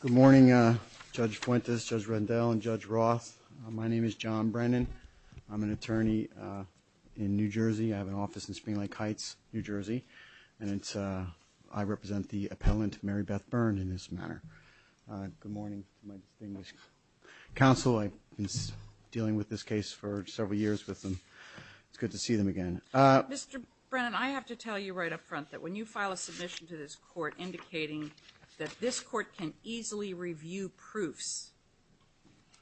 Good morning, Judge Fuentes, Judge Rendell, and Judge Roth. My name is John Brennan. I'm an attorney in New Jersey. I have an office in Spring Lake Heights, New Jersey, and I represent the appellant Mary Beth Byrne in this matter. Good morning to my distinguished counsel. I've been dealing with this case for several years with them. It's good to be here. It's good to see them again. Mr. Brennan, I have to tell you right up front that when you file a submission to this court indicating that this court can easily review proofs,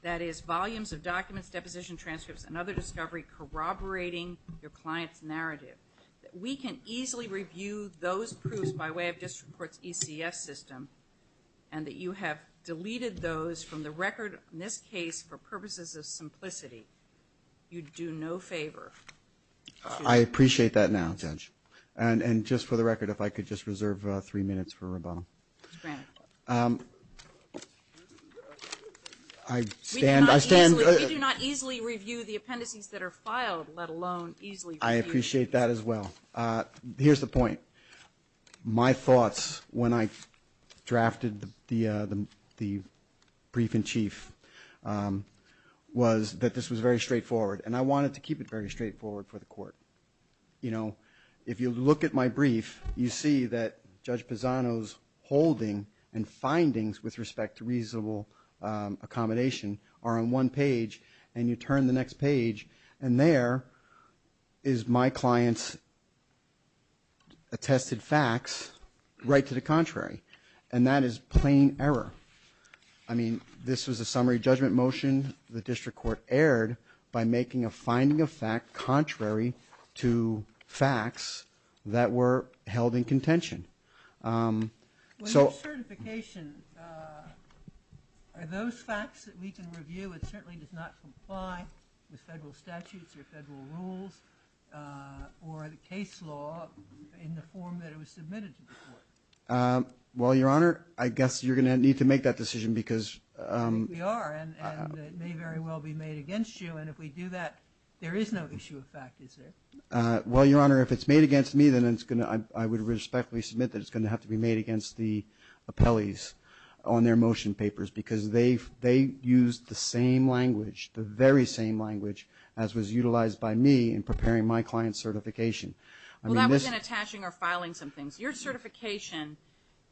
that is volumes of documents, deposition transcripts, and other discovery corroborating your client's narrative, that we can easily review those proofs by way of District Court's ECF system and that you have deleted those from the record in this case for purposes of simplicity, you do no favor. I appreciate that now, Judge, and just for the record, if I could just reserve three minutes for rebuttal. Mr. Brennan. We do not easily review the appendices that are filed, let alone easily review them. I appreciate that as well. Here's the point. My thoughts when I drafted the brief-in-chief was that this was very straightforward, and I wanted to keep it very straightforward for the court. You know, if you look at my brief, you see that Judge Pisano's holding and findings with respect to reasonable accommodation are on one page, and you turn the next page, and there is my client's attested facts right to the contrary. And that is plain error. I mean, this was a summary judgment motion the District Court aired by making a finding of fact contrary to facts that were held in contention. When there's certification, are those facts that we can review? It certainly does not comply with federal statutes or federal rules or the case law in the form that it was submitted to the court. Well, Your Honor, I guess you're going to need to make that decision because – We are, and it may very well be made against you, and if we do that, there is no issue of fact, is there? Well, Your Honor, if it's made against me, then it's going to – I would respectfully submit that it's going to have to be made against the appellees on their motion papers because they used the same language, the very same language, as was utilized by me in preparing my client's certification. I mean, this – Well, that was in attaching or filing some things. Your certification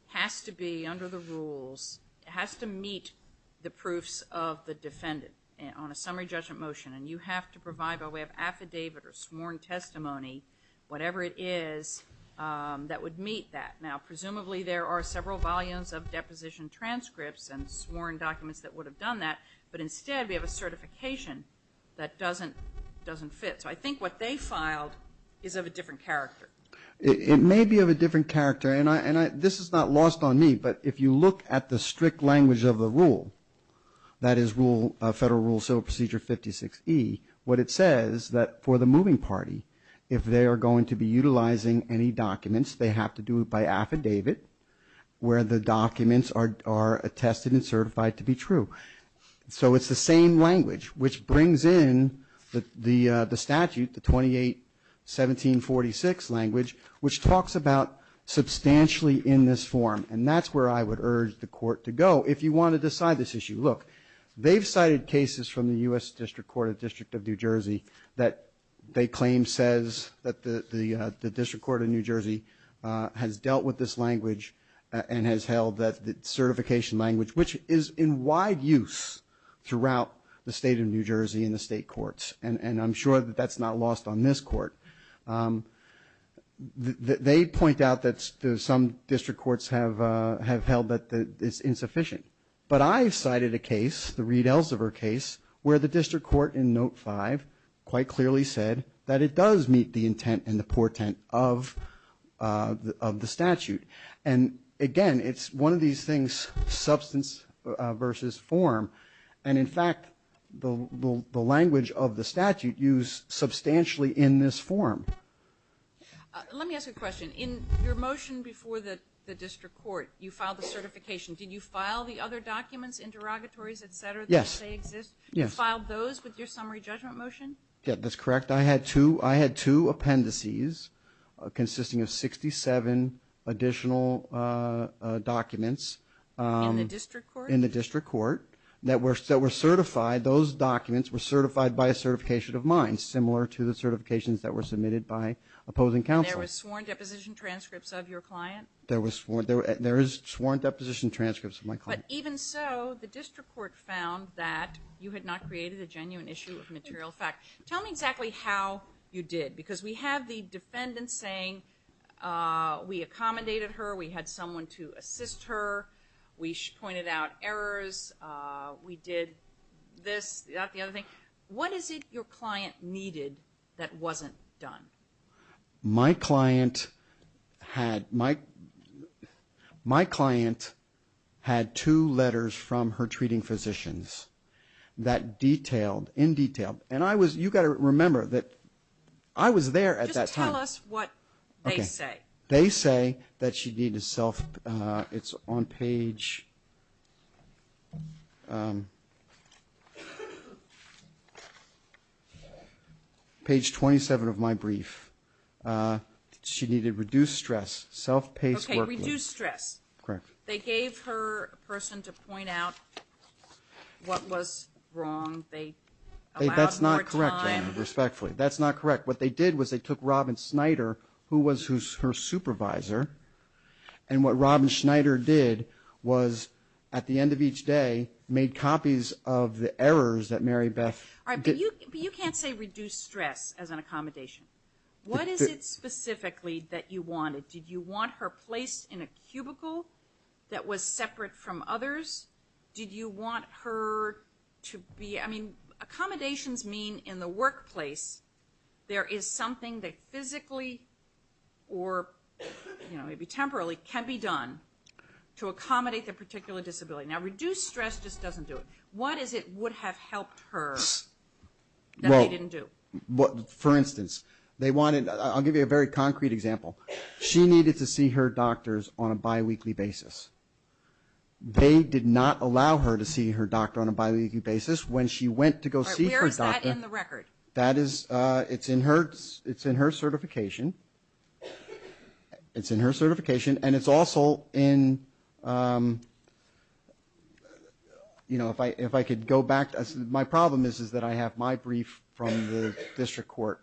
has to be, under the rules, it has to meet the proofs of the defendant on a summary judgment motion, and you have to provide by way of affidavit or sworn testimony, whatever it is, that would meet that. Now, presumably, there are several volumes of deposition transcripts and sworn documents that would have done that, but instead, we have a certification that doesn't fit, so I think what they filed is of a different character. It may be of a different character, and this is not lost on me, but if you look at the strict language of the rule, that is Federal Rule Civil Procedure 56E, what it says that for the moving party, if they are going to be utilizing any documents, they have to do it by affidavit, where the documents are attested and certified to be true. So it's the same language, which brings in the statute, the 28-1746 language, which talks about substantially in this form, and that's where I would urge the Court to go if you want to decide this issue. Look, they've cited cases from the U.S. District Court of the District of New Jersey that they claim says that the District Court of New Jersey has dealt with this language and has held that certification language, which is in wide use throughout the State of New Jersey in the state courts, and I'm sure that that's not lost on this Court. They point out that some district courts have held that it's insufficient, but I've cited a case, the Reed-Elsevier case, where the District Court in Note 5 quite clearly said that it does meet the intent and the portent of the statute. And again, it's one of these things, substance versus form, and in fact, the language of the statute used substantially in this form. Let me ask a question. In your motion before the District Court, you filed the certification. Did you file the other documents, interrogatories, et cetera, that you say exist? Yes. You filed those with your summary judgment motion? Yes. That's correct. I had two appendices consisting of 67 additional documents in the District Court that were certified. Those documents were certified by a certification of mine, similar to the certifications that were submitted by opposing counsel. And there were sworn deposition transcripts of your client? There were sworn deposition transcripts of my client. But even so, the District Court found that you had not created a genuine issue of material fact. Tell me exactly how you did, because we have the defendant saying, we accommodated her, we had someone to assist her, we pointed out errors, we did this, that, the other thing. What is it your client needed that wasn't done? My client had two letters from her treating physicians that detailed, in detail, and you got to remember that I was there at that time. Just tell us what they say. They say that she needed self, it's on page, page 27 of my brief, she needed reduced stress, self-paced work. Okay, reduced stress. Correct. They gave her a person to point out what was wrong, they allowed more time. That's not correct, respectfully. That's not correct. What they did was they took Robyn Schneider, who was her supervisor, and what Robyn Schneider did was, at the end of each day, made copies of the errors that Mary Beth did. You can't say reduced stress as an accommodation. What is it specifically that you wanted? Did you want her placed in a cubicle that was separate from others? Did you want her to be, I mean, accommodations mean in the workplace there is something that physically or maybe temporally can be done to accommodate that particular disability. Now, reduced stress just doesn't do it. What is it would have helped her that they didn't do? For instance, they wanted, I'll give you a very concrete example. She needed to see her doctors on a bi-weekly basis. They did not allow her to see her doctor on a bi-weekly basis. When she went to go see her doctor. All right, where is that in the record? That is, it's in her certification. It's in her certification, and it's also in, you know, if I could go back, my problem is that I have my brief from the district court,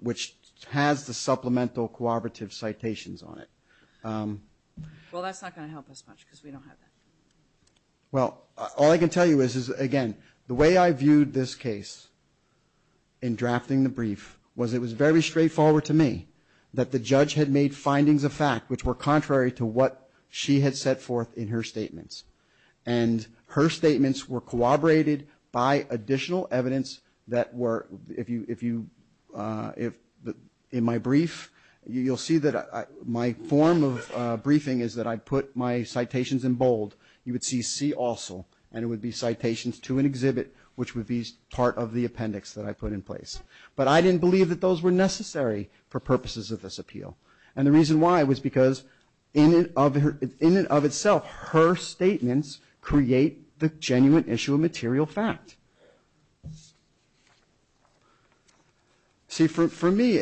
which has the supplemental cooperative citations on it. Well, that's not going to help us much because we don't have that. Well, all I can tell you is, again, the way I viewed this case in drafting the brief was it was very straightforward to me that the judge had made findings of fact which were contrary to what she had set forth in her statements. And her statements were corroborated by additional evidence that were, if you, in my brief, you'll see that my form of briefing is that I put my citations in bold. You would see C also, and it would be citations to an exhibit which would be part of the appendix that I put in place. But I didn't believe that those were necessary for purposes of this appeal. And the reason why was because in and of itself, her statements create the genuine issue of material fact. See, for me,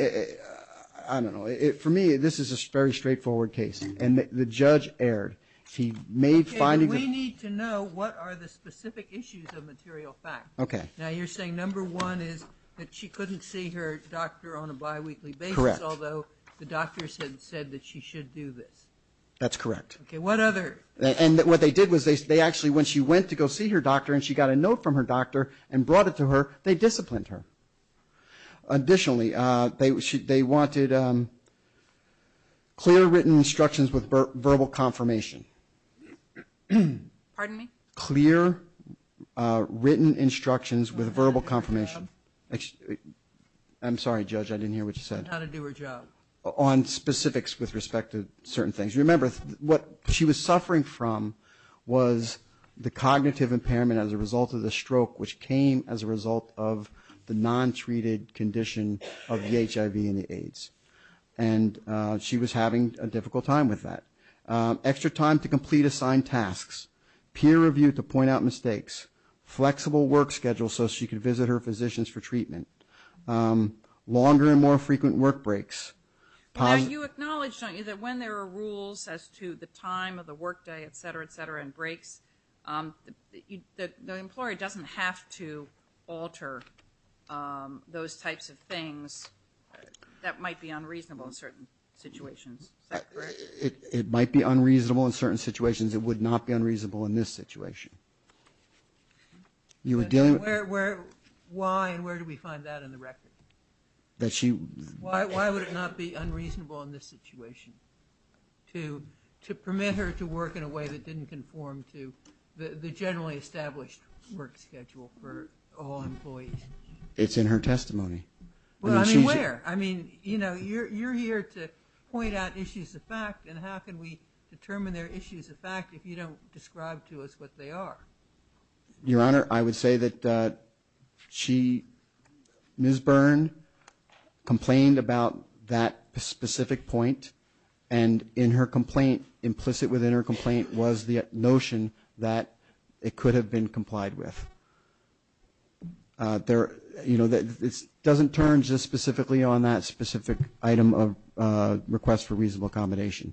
I don't know, for me, this is a very straightforward case, and the judge erred. He made findings. Okay, but we need to know what are the specific issues of material fact. Okay. Now, you're saying number one is that she couldn't see her doctor on a biweekly basis, although the doctors had said that she should do this. That's correct. Okay, what other? And what they did was they actually, when she went to go see her doctor and she got a note from her doctor and brought it to her, they disciplined her. Additionally, they wanted clear written instructions with verbal confirmation. Pardon me? Clear written instructions with verbal confirmation. I'm sorry, Judge, I didn't hear what you said. How to do her job. On specifics with respect to certain things. Remember, what she was suffering from was the cognitive impairment as a result of the stroke, which came as a result of the non-treated condition of the HIV and the AIDS, and she was having a difficult time with that. Extra time to complete assigned tasks, peer review to point out mistakes, flexible work schedules so she could visit her physicians for treatment, longer and more frequent work breaks. Now, you acknowledge, don't you, that when there are rules as to the time of the work day, et cetera, et cetera, and breaks, the employer doesn't have to alter those types of things that might be unreasonable in certain situations, is that correct? It might be unreasonable in certain situations. It would not be unreasonable in this situation. You were dealing with... Why and where do we find that in the record? That she... Why would it not be unreasonable in this situation to permit her to work in a way that didn't conform to the generally established work schedule for all employees? It's in her testimony. Well, I mean, where? I mean, you know, you're here to point out issues of fact, and how can we determine they're issues of fact if you don't describe to us what they are? Your Honor, I would say that she, Ms. Byrne, complained about that specific point, and in her complaint, implicit within her complaint was the notion that it could have been complied with. There, you know, it doesn't turn just specifically on that specific item of request for reasonable accommodation.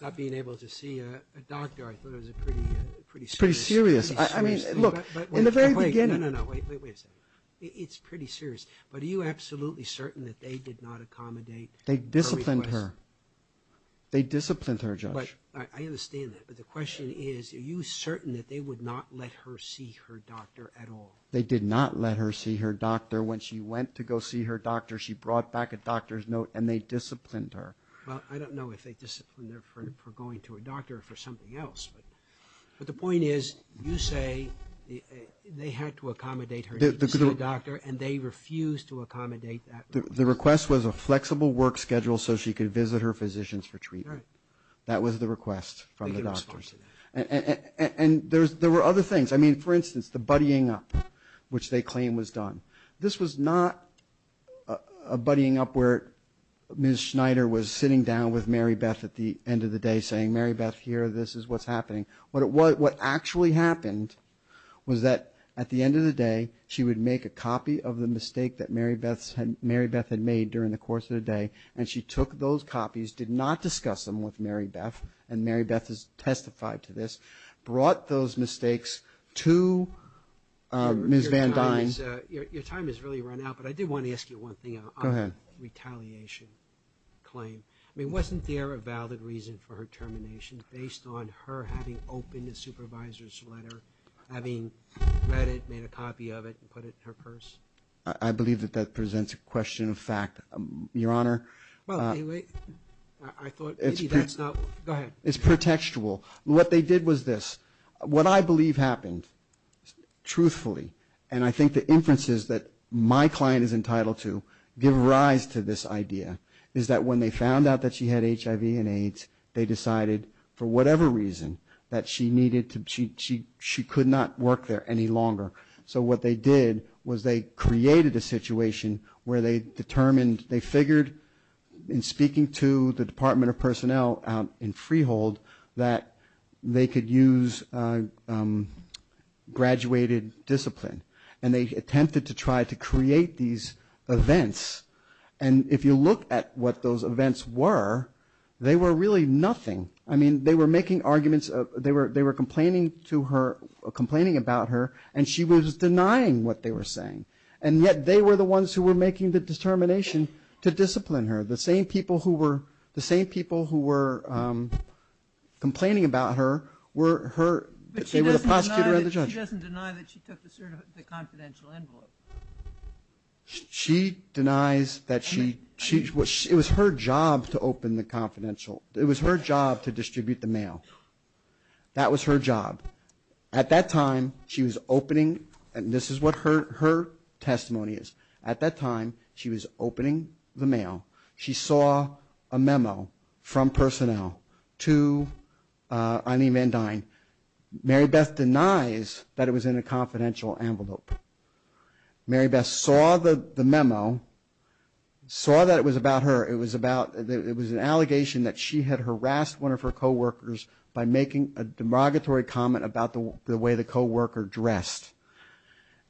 Not being able to see a doctor, I thought it was a pretty serious... It's pretty serious. I mean, look, in the very beginning... No, no, no. Wait a second. It's pretty serious, but are you absolutely certain that they did not accommodate her request? They disciplined her. They disciplined her, Judge. I understand that, but the question is, are you certain that they would not let her see her doctor at all? They did not let her see her doctor. When she went to go see her doctor, she brought back a doctor's note, and they disciplined her. Well, I don't know if they disciplined her for going to a doctor or for something else, but the point is, you say they had to accommodate her to see a doctor, and they refused to accommodate that request. The request was a flexible work schedule so she could visit her physicians for treatment. Right. That was the request from the doctors. They didn't respond to that. And there were other things. I mean, for instance, the buddying up, which they claim was done. This was not a buddying up where Ms. Schneider was sitting down with Marybeth at the end of the day saying, Marybeth, here, this is what's happening. What actually happened was that at the end of the day, she would make a copy of the mistake that Marybeth had made during the course of the day, and she took those copies, did not discuss them with Marybeth, and Marybeth has testified to this, brought those mistakes to Ms. Van Dyne. Your time has really run out, but I did want to ask you one thing. Go ahead. On the retaliation claim. I mean, wasn't there a valid reason for her termination based on her having opened a supervisor's letter, having read it, made a copy of it, and put it in her purse? I believe that that presents a question of fact, Your Honor. Well, anyway, I thought maybe that's not – go ahead. It's pretextual. What they did was this. What I believe happened, truthfully, and I think the inferences that my client is entitled to give rise to this idea, is that when they found out that she had HIV and AIDS, they decided for whatever reason that she needed to – she could not work there any longer. So what they did was they created a situation where they determined – they figured in the Department of Personnel in Freehold that they could use graduated discipline. And they attempted to try to create these events. And if you look at what those events were, they were really nothing. I mean, they were making arguments – they were complaining to her – complaining about her, and she was denying what they were saying. And yet they were the ones who were making the determination to discipline her. The same people who were complaining about her were her – they were the prosecutor and the judge. But she doesn't deny that she took the confidential envelope. She denies that she – it was her job to open the confidential – it was her job to distribute the mail. That was her job. At that time, she was opening – and this is what her testimony is. At that time, she was opening the mail. She saw a memo from personnel to Eileen Van Dyne. Mary Beth denies that it was in a confidential envelope. Mary Beth saw the memo, saw that it was about her. It was about – it was an allegation that she had harassed one of her coworkers by making a demagoguery comment about the way the coworker dressed.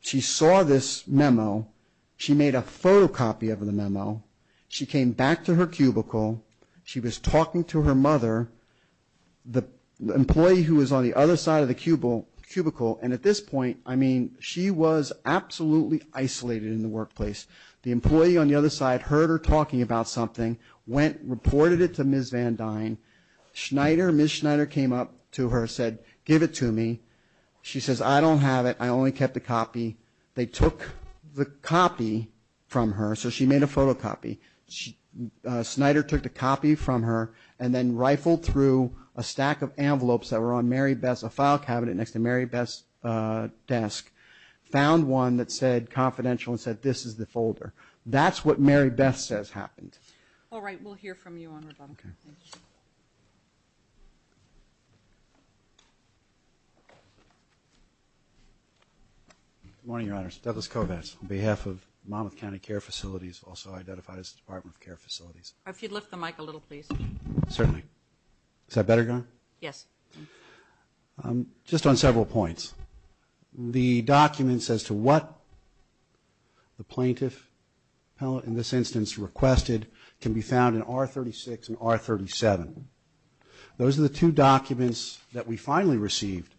She saw this memo. She made a photocopy of the memo. She came back to her cubicle. She was talking to her mother, the employee who was on the other side of the cubicle. And at this point, I mean, she was absolutely isolated in the workplace. The employee on the other side heard her talking about something, went, reported it to Ms. Van Dyne. Schneider – Ms. Schneider came up to her, said, give it to me. She says, I don't have it. I only kept a copy. They took the copy from her. So she made a photocopy. Schneider took the copy from her and then rifled through a stack of envelopes that were on Mary Beth's – a file cabinet next to Mary Beth's desk, found one that said confidential and said, this is the folder. That's what Mary Beth says happened. All right. We'll hear from you on rebuttal. Okay. Good morning, Your Honors. Douglas Kovats on behalf of Monmouth County Care Facilities, also identified as Department of Care Facilities. If you'd lift the mic a little, please. Certainly. Is that better, Your Honor? Yes. Just on several points. The documents as to what the plaintiff, in this instance, requested can be found in R36 and R37. Those are the two documents that we finally received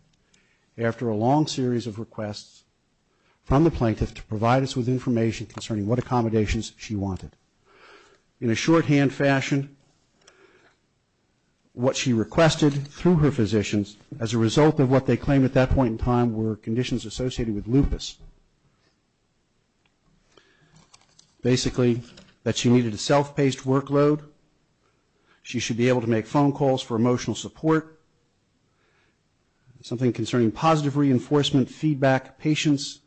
after a long series of requests from the plaintiff to provide us with information concerning what accommodations she wanted. In a shorthand fashion, what she requested through her physicians as a result of what they claimed at that point in time were conditions associated with lupus. Basically, that she needed a self-paced workload, she should be able to make phone calls for emotional support, something concerning positive reinforcement feedback, patience,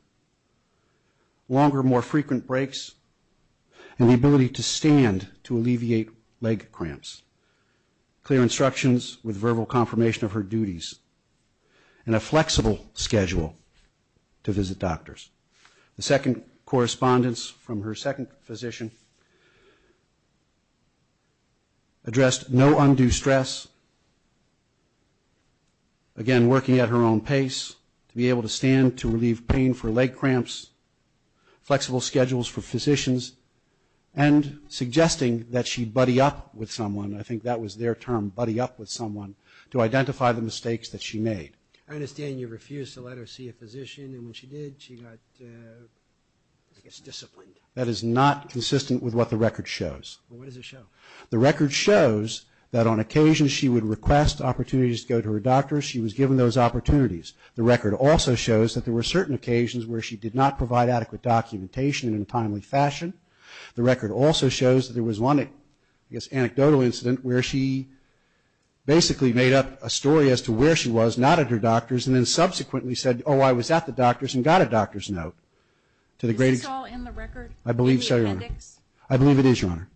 longer, more frequent breaks, and the ability to stand to alleviate leg cramps. Clear instructions with verbal confirmation of her duties. And a flexible schedule to visit doctors. The second correspondence from her second physician addressed no undue stress. Again, working at her own pace to be able to stand to relieve pain for leg cramps, flexible schedules for physicians, and suggesting that she buddy up with someone, I think that was their term, buddy up with someone, to identify the mistakes that she made. I understand you refused to let her see a physician, and when she did, she got, I guess, disciplined. That is not consistent with what the record shows. Well, what does it show? The record shows that on occasions she would request opportunities to go to her doctor, she was given those opportunities. The record also shows that there were certain occasions where she did not provide adequate documentation in a timely fashion. The record also shows that there was one, I guess, anecdotal incident where she basically made up a story as to where she was, not at her doctor's, and then subsequently said, oh, I was at the doctor's and got a doctor's note. Is this all in the record? I believe so, Your Honor. In the appendix? I believe it is, Your Honor.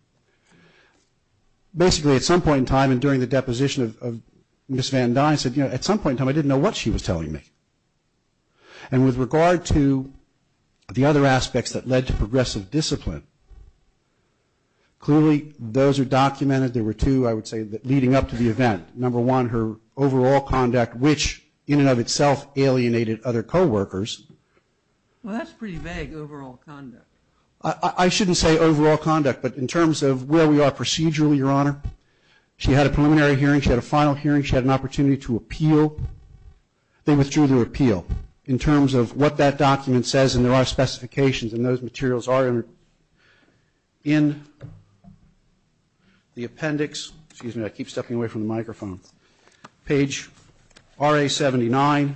Basically, at some point in time and during the deposition of Ms. Van Dine said, you know, at some point in time I didn't know what she was telling me. And with regard to the other aspects that led to progressive discipline, clearly those are documented. There were two, I would say, leading up to the event. Number one, her overall conduct, which in and of itself alienated other co-workers. Well, that's pretty vague, overall conduct. I shouldn't say overall conduct, but in terms of where we are procedurally, Your Honor, she had a preliminary hearing, she had a final hearing, she had an opportunity to appeal. They withdrew their appeal in terms of what that document says, and there are specifications, and those materials are in the appendix. Excuse me, I keep stepping away from the microphone. Page RA-79,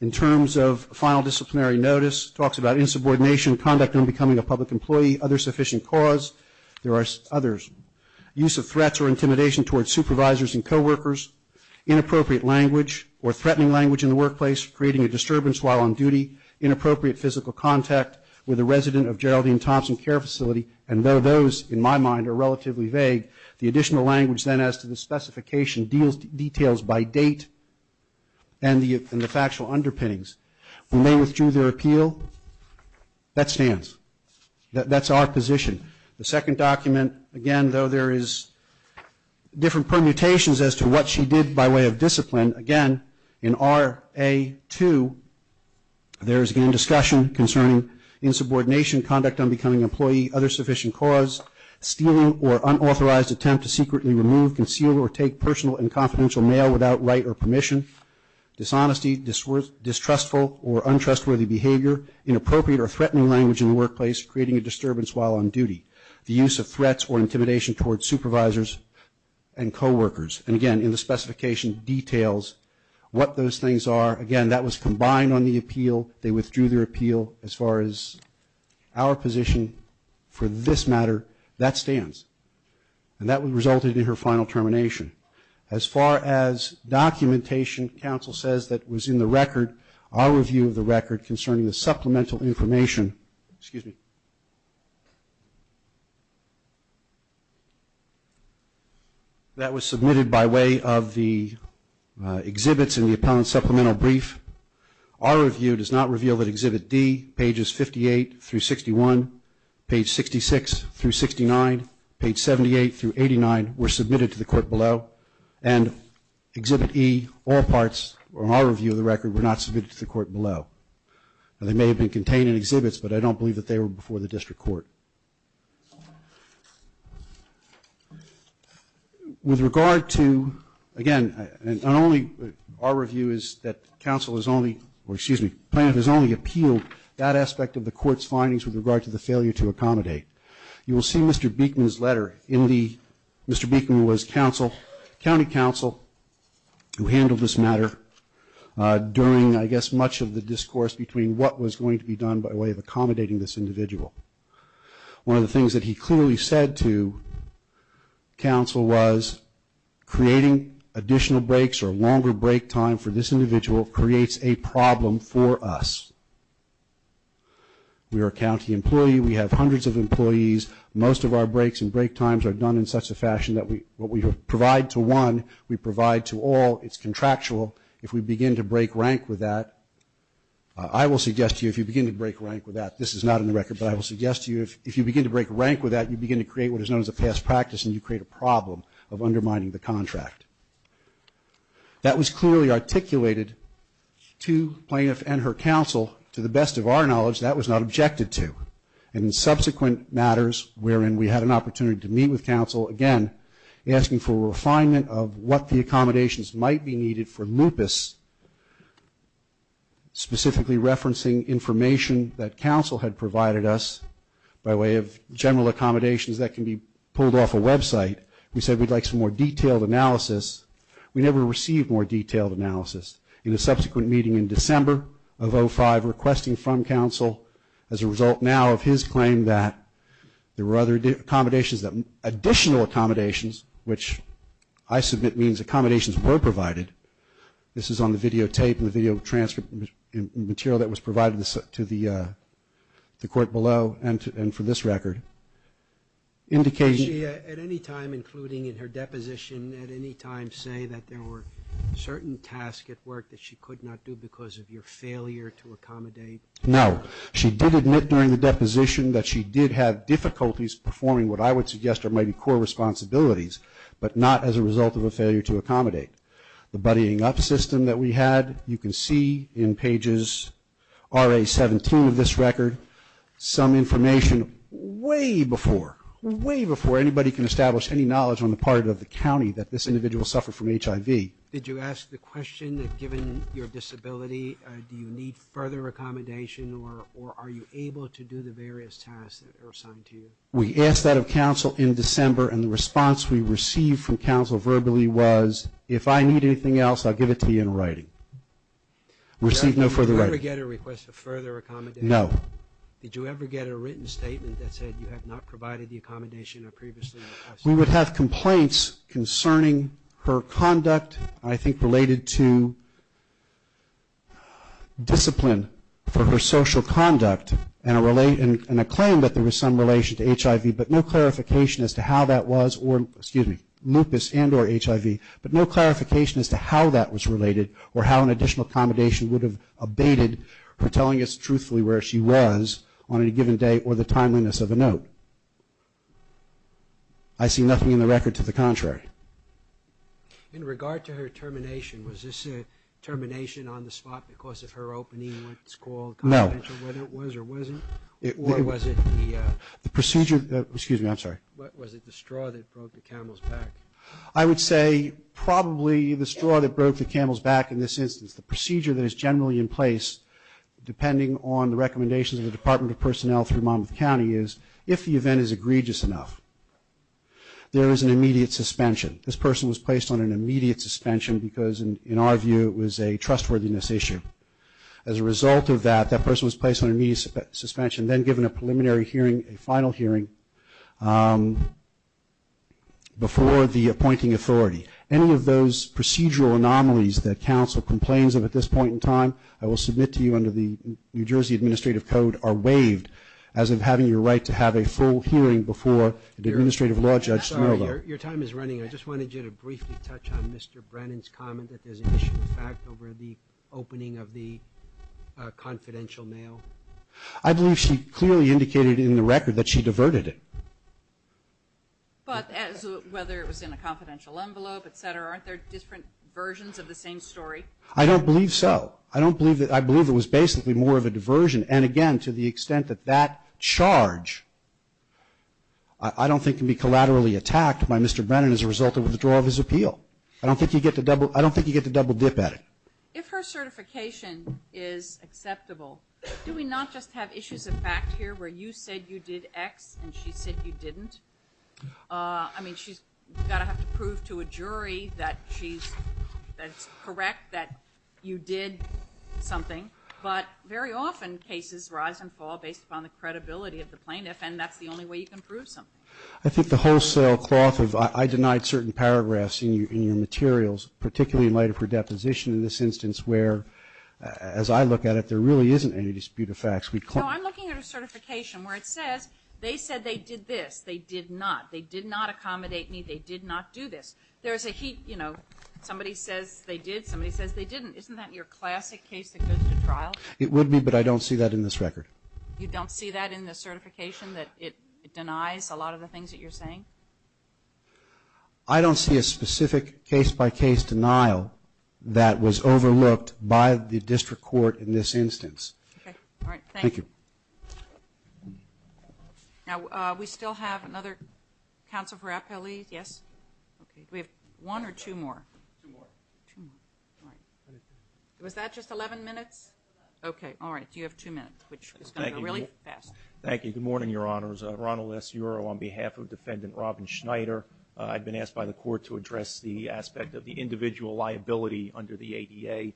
in terms of final disciplinary notice, talks about insubordination, conduct in becoming a public employee, other sufficient cause. There are others. Use of threats or intimidation towards supervisors and co-workers. Inappropriate language or threatening language in the workplace, creating a disturbance while on duty. Inappropriate physical contact with a resident of Geraldine Thompson Care Facility. And though those, in my mind, are relatively vague, the additional language then as to the specification details by date and the factual underpinnings. We may withdrew their appeal. That stands. That's our position. The second document, again, though there is different permutations as to what she did by way of discipline, again, in RA-2, there is, again, discussion concerning insubordination, conduct on becoming an employee, other sufficient cause, stealing or unauthorized attempt to secretly remove, conceal, or take personal and confidential mail without right or permission. Dishonesty, distrustful or untrustworthy behavior. Inappropriate or threatening language in the workplace, creating a disturbance while on duty. The use of threats or intimidation towards supervisors and co-workers. And, again, in the specification details what those things are. Again, that was combined on the appeal. They withdrew their appeal. As far as our position for this matter, that stands. And that resulted in her final termination. As far as documentation, counsel says that was in the record, our review of the record concerning the supplemental information. Excuse me. That was submitted by way of the exhibits in the appellant supplemental brief. Our review does not reveal that Exhibit D, pages 58 through 61, page 66 through 69, page 78 through 89 were submitted to the court below. And Exhibit E, all parts, on our review of the record, were not submitted to the court below. They may have been contained in exhibits, but I don't believe that they were before the district court. With regard to, again, our review is that counsel has only, or excuse me, plaintiff has only appealed that aspect of the court's findings with regard to the failure to accommodate. You will see Mr. Beekman's letter. Mr. Beekman was county counsel who handled this matter during, I guess, much of the discourse between what was going to be done by way of accommodating this individual. One of the things that he clearly said to counsel was creating additional breaks or longer break time for this individual creates a problem for us. We are a county employee. We have hundreds of employees. Most of our breaks and break times are done in such a fashion that what we provide to one, we provide to all. It's contractual. If we begin to break rank with that, I will suggest to you if you begin to break rank with that, this is not in the record, but I will suggest to you if you begin to break rank with that, you begin to create what is known as a past practice and you create a problem of undermining the contract. That was clearly articulated to plaintiff and her counsel. To the best of our knowledge, that was not objected to. In subsequent matters wherein we had an opportunity to meet with counsel, again, asking for refinement of what the accommodations might be needed for lupus, specifically referencing information that counsel had provided us by way of general accommodations that can be pulled off a website. We said we'd like some more detailed analysis. We never received more detailed analysis. In a subsequent meeting in December of 05, requesting from counsel as a result now of his claim that there were other accommodations, additional accommodations, which I submit means accommodations were provided. This is on the videotape and the video transcript and material that was provided to the court below and for this record. At any time, including in her deposition, say that there were certain tasks at work that she could not do because of your failure to accommodate? No. She did admit during the deposition that she did have difficulties performing what I would suggest are maybe core responsibilities, but not as a result of a failure to accommodate. The buddying up system that we had, you can see in pages RA17 of this record, some information way before, way before anybody can establish any knowledge on any part of the county that this individual suffered from HIV. Did you ask the question that given your disability, do you need further accommodation or are you able to do the various tasks that are assigned to you? We asked that of counsel in December and the response we received from counsel verbally was, if I need anything else, I'll give it to you in writing. We received no further writing. Did you ever get a request for further accommodation? No. Did you ever get a written statement that said you have not provided the accommodation I previously requested? We would have complaints concerning her conduct, I think related to discipline for her social conduct and a claim that there was some relation to HIV, but no clarification as to how that was or, excuse me, lupus and or HIV, but no clarification as to how that was related or how an additional accommodation would have abated her telling us truthfully where she was on any given day or the timeliness of a note. I see nothing in the record to the contrary. In regard to her termination, was this a termination on the spot because of her opening what's called confidential? No. Whether it was or wasn't or was it the... The procedure, excuse me, I'm sorry. Was it the straw that broke the camel's back? I would say probably the straw that broke the camel's back in this instance. The procedure that is generally in place depending on the recommendations of the Department of Personnel through Monmouth County is if the event is egregious enough, there is an immediate suspension. This person was placed on an immediate suspension because, in our view, it was a trustworthiness issue. As a result of that, that person was placed on an immediate suspension, then given a preliminary hearing, a final hearing, before the appointing authority. Any of those procedural anomalies that counsel complains of at this point in as of having your right to have a full hearing before the Administrative Law Judge Smirnoff. I'm sorry. Your time is running out. I just wanted you to briefly touch on Mr. Brennan's comment that there's an issue of fact over the opening of the confidential mail. I believe she clearly indicated in the record that she diverted it. But whether it was in a confidential envelope, et cetera, aren't there different versions of the same story? I don't believe so. I believe it was basically more of a diversion. And, again, to the extent that that charge I don't think can be collaterally attacked by Mr. Brennan as a result of withdrawal of his appeal. I don't think you get to double dip at it. If her certification is acceptable, do we not just have issues of fact here where you said you did X and she said you didn't? I mean, she's got to have to prove to a jury that she's correct, that you did something. But very often cases rise and fall based upon the credibility of the plaintiff, and that's the only way you can prove something. I think the wholesale cloth of I denied certain paragraphs in your materials, particularly in light of her deposition in this instance, where as I look at it there really isn't any dispute of facts. No, I'm looking at her certification where it says they said they did this. They did not. They did not accommodate me. They did not do this. There's a heat, you know, somebody says they did, somebody says they didn't. Isn't that your classic case that goes to trial? It would be, but I don't see that in this record. You don't see that in the certification that it denies a lot of the things that you're saying? I don't see a specific case-by-case denial that was overlooked by the district court in this instance. Okay. All right. Thank you. Thank you. Now, we still have another counsel for appellees. Yes? Okay. Do we have one or two more? Two more. All right. Was that just 11 minutes? Okay. All right. You have two minutes, which is going to go really fast. Thank you. Good morning, Your Honors. Ronald S. Euro on behalf of Defendant Robin Schneider. I've been asked by the court to address the aspect of the individual liability under the ADA,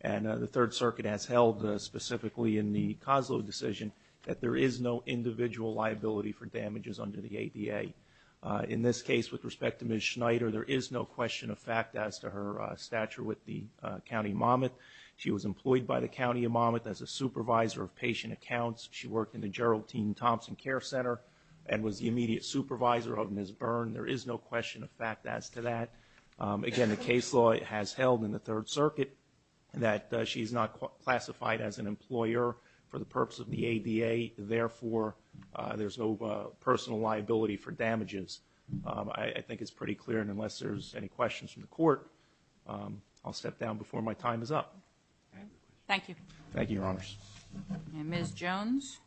and the Third Circuit has held specifically in the Coslow decision that there is no individual liability for damages under the ADA. In this case, with respect to Ms. Schneider, there is no question of fact as to her stature with the County Monmouth. She was employed by the County Monmouth as a supervisor of patient accounts. She worked in the Gerald T. Thompson Care Center and was the immediate supervisor of Ms. Byrne. There is no question of fact as to that. Again, the case law has held in the Third Circuit that she is not classified as an employer for the purpose of the ADA. Therefore, there's no personal liability for damages. I think it's pretty clear, and unless there's any questions from the court, I'll step down before my time is up. Thank you. Thank you, Your Honors. Ms. Jones.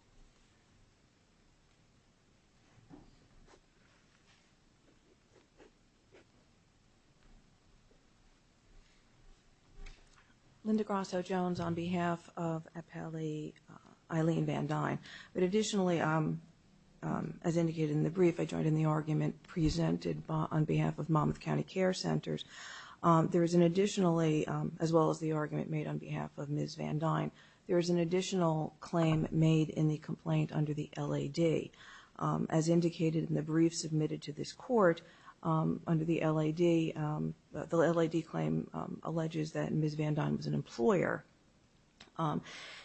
Linda Grosso-Jones on behalf of Appellee Eileen Van Dyne. But additionally, as indicated in the brief, I joined in the argument presented on behalf of Monmouth County Care Centers. There is an additionally, as well as the argument made on behalf of Ms. Van Dyne, there is an additional claim made in the complaint under the LAD. As indicated in the brief submitted to this court under the LAD, the LAD claim alleges that Ms. Van Dyne was an employer.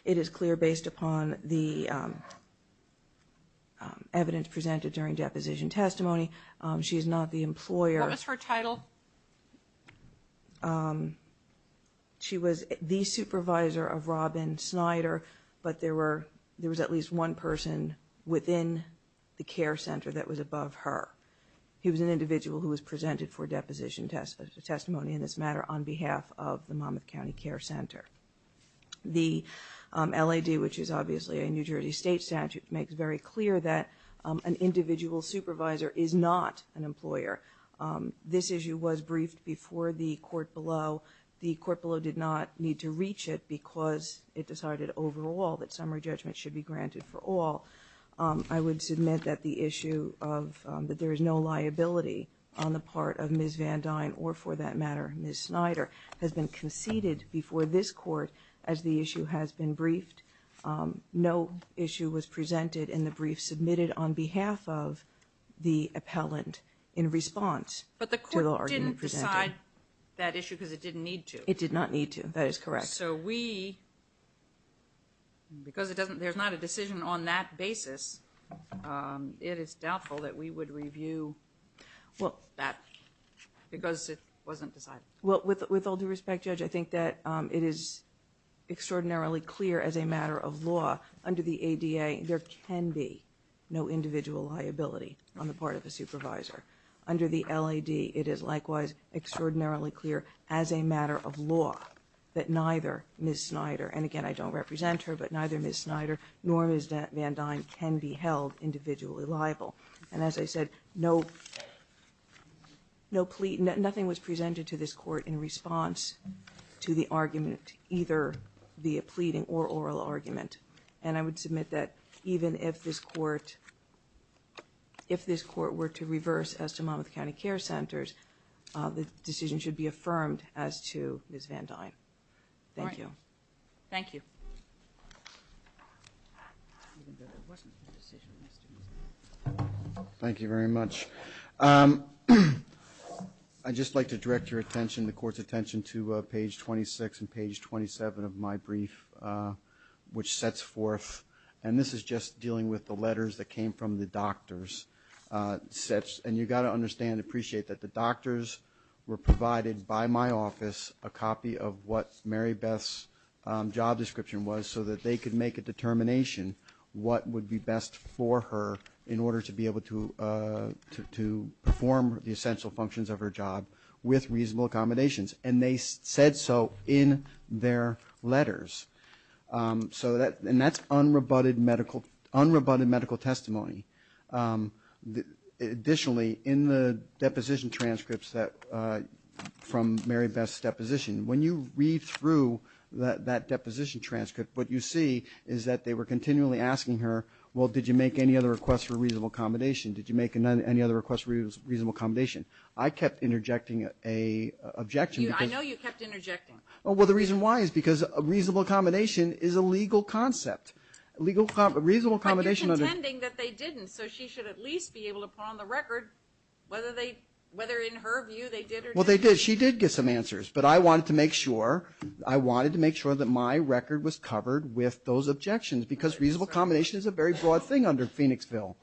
It is clear based upon the evidence presented during deposition testimony, she is not the employer. What was her title? She was the supervisor of Robin Snyder, but there was at least one person within the care center that was above her. He was an individual who was presented for deposition testimony in this matter on behalf of the Monmouth County Care Center. The LAD, which is obviously a New Jersey State statute, makes very clear that an individual supervisor is not an employer. This issue was briefed before the court below. The court below did not need to reach it because it decided overall that summary judgment should be granted for all. I would submit that the issue of that there is no liability on the part of Ms. Van Dyne or, for that matter, Ms. Snyder, has been conceded before this court as the issue has been briefed. No issue was presented in the brief submitted on behalf of the appellant in response. But the court didn't decide that issue because it didn't need to. It did not need to. That is correct. So we, because there's not a decision on that basis, it is doubtful that we would review that. Because it wasn't decided. With all due respect, Judge, I think that it is extraordinarily clear as a matter of law under the ADA there can be no individual liability on the part of a supervisor. Under the LAD, it is likewise extraordinarily clear as a matter of law that neither Ms. Snyder, and again I don't represent her, but neither Ms. Snyder nor Ms. Van Dyne can be held individually liable. And as I said, no plea, nothing was presented to this court in response to the argument, either via pleading or oral argument. And I would submit that even if this court, if this court were to reverse as to Monmouth County Care Centers, the decision should be affirmed as to Ms. Van Dyne. Thank you. Thank you. Thank you very much. I'd just like to direct your attention, the court's attention, to page 26 and page 27 of my brief, which sets forth, and this is just dealing with the letters that came from the doctors, and you've got to understand and appreciate that the doctors were provided by my office a copy of what Mary Beth's job description was so that they could make a determination what would be best for her in order to be able to perform the essential functions of her job with reasonable accommodations. And they said so in their letters. And that's unrebutted medical testimony. Additionally, in the deposition transcripts from Mary Beth's deposition, when you read through that deposition transcript, what you see is that they were continually asking her, well, did you make any other requests for reasonable accommodation? Did you make any other requests for reasonable accommodation? I kept interjecting an objection. I know you kept interjecting. Well, the reason why is because reasonable accommodation is a legal concept. But you're contending that they didn't, so she should at least be able to put on the record whether in her view they did or didn't. Well, they did. She did get some answers, but I wanted to make sure. I wanted to make sure that my record was covered with those objections because reasonable accommodation is a very broad thing under Phoenixville.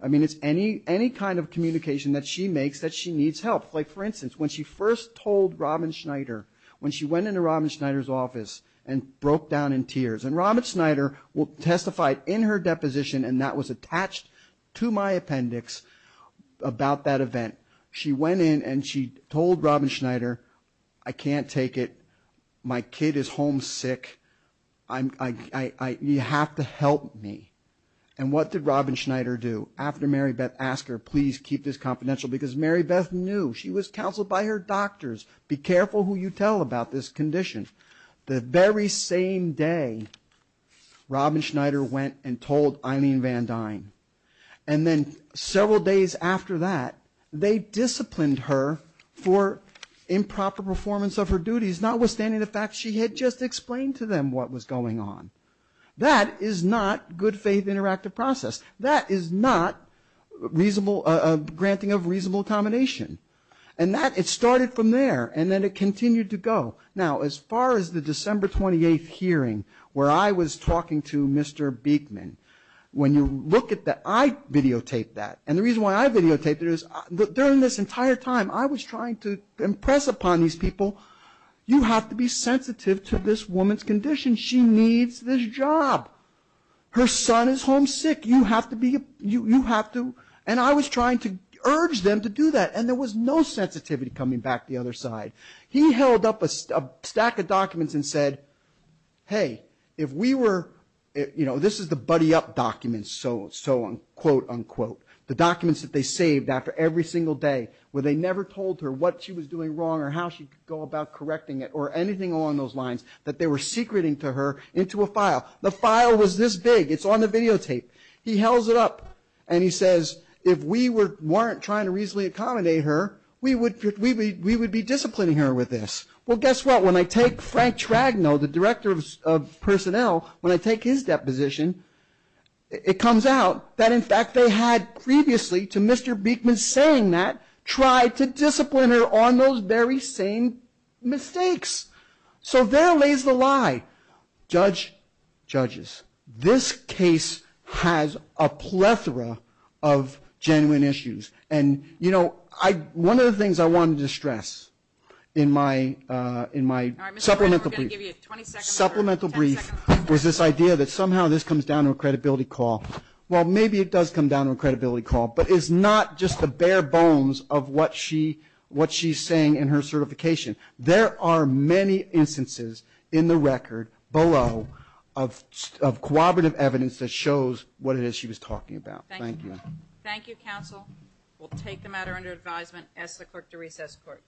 I mean, it's any kind of communication that she makes that she needs help. Like, for instance, when she first told Robin Schneider, when she went into Robin Schneider's office and broke down in tears, and Robin Schneider testified in her deposition, and that was attached to my appendix about that event. She went in and she told Robin Schneider, I can't take it. My kid is homesick. You have to help me. And what did Robin Schneider do? After Marybeth asked her, please keep this confidential, because Marybeth knew. She was counseled by her doctors. Be careful who you tell about this condition. The very same day, Robin Schneider went and told Eileen Van Dyne. And then several days after that, they disciplined her for improper performance of her duties, notwithstanding the fact she had just explained to them what was going on. That is not good faith interactive process. That is not granting of reasonable accommodation. And it started from there, and then it continued to go. Now, as far as the December 28th hearing where I was talking to Mr. Beekman, when you look at that, I videotaped that. And the reason why I videotaped it is during this entire time, I was trying to impress upon these people, you have to be sensitive to this woman's condition. She needs this job. Her son is homesick. You have to be you have to. And I was trying to urge them to do that, and there was no sensitivity coming back the other side. He held up a stack of documents and said, hey, if we were, you know, this is the buddy up documents, so on, quote, unquote. The documents that they saved after every single day, where they never told her what she was doing wrong or how she could go about correcting it or anything along those lines that they were secreting to her into a file. The file was this big. It's on the videotape. He held it up, and he says, if we weren't trying to reasonably accommodate her, we would be disciplining her with this. Well, guess what? When I take Frank Tragno, the director of personnel, when I take his deposition, it comes out that in fact they had previously, to Mr. Beekman saying that, tried to discipline her on those very same mistakes. So there lays the lie. Judge, judges, this case has a plethora of genuine issues. And, you know, one of the things I wanted to stress in my supplemental brief was this idea that somehow this comes down to a credibility call. Well, maybe it does come down to a credibility call, but it's not just the bare bones of what she's saying in her certification. There are many instances in the record below of cooperative evidence that shows what it is she was talking about. Thank you. Thank you, counsel. We'll take the matter under advisement. Ask the clerk to recess court.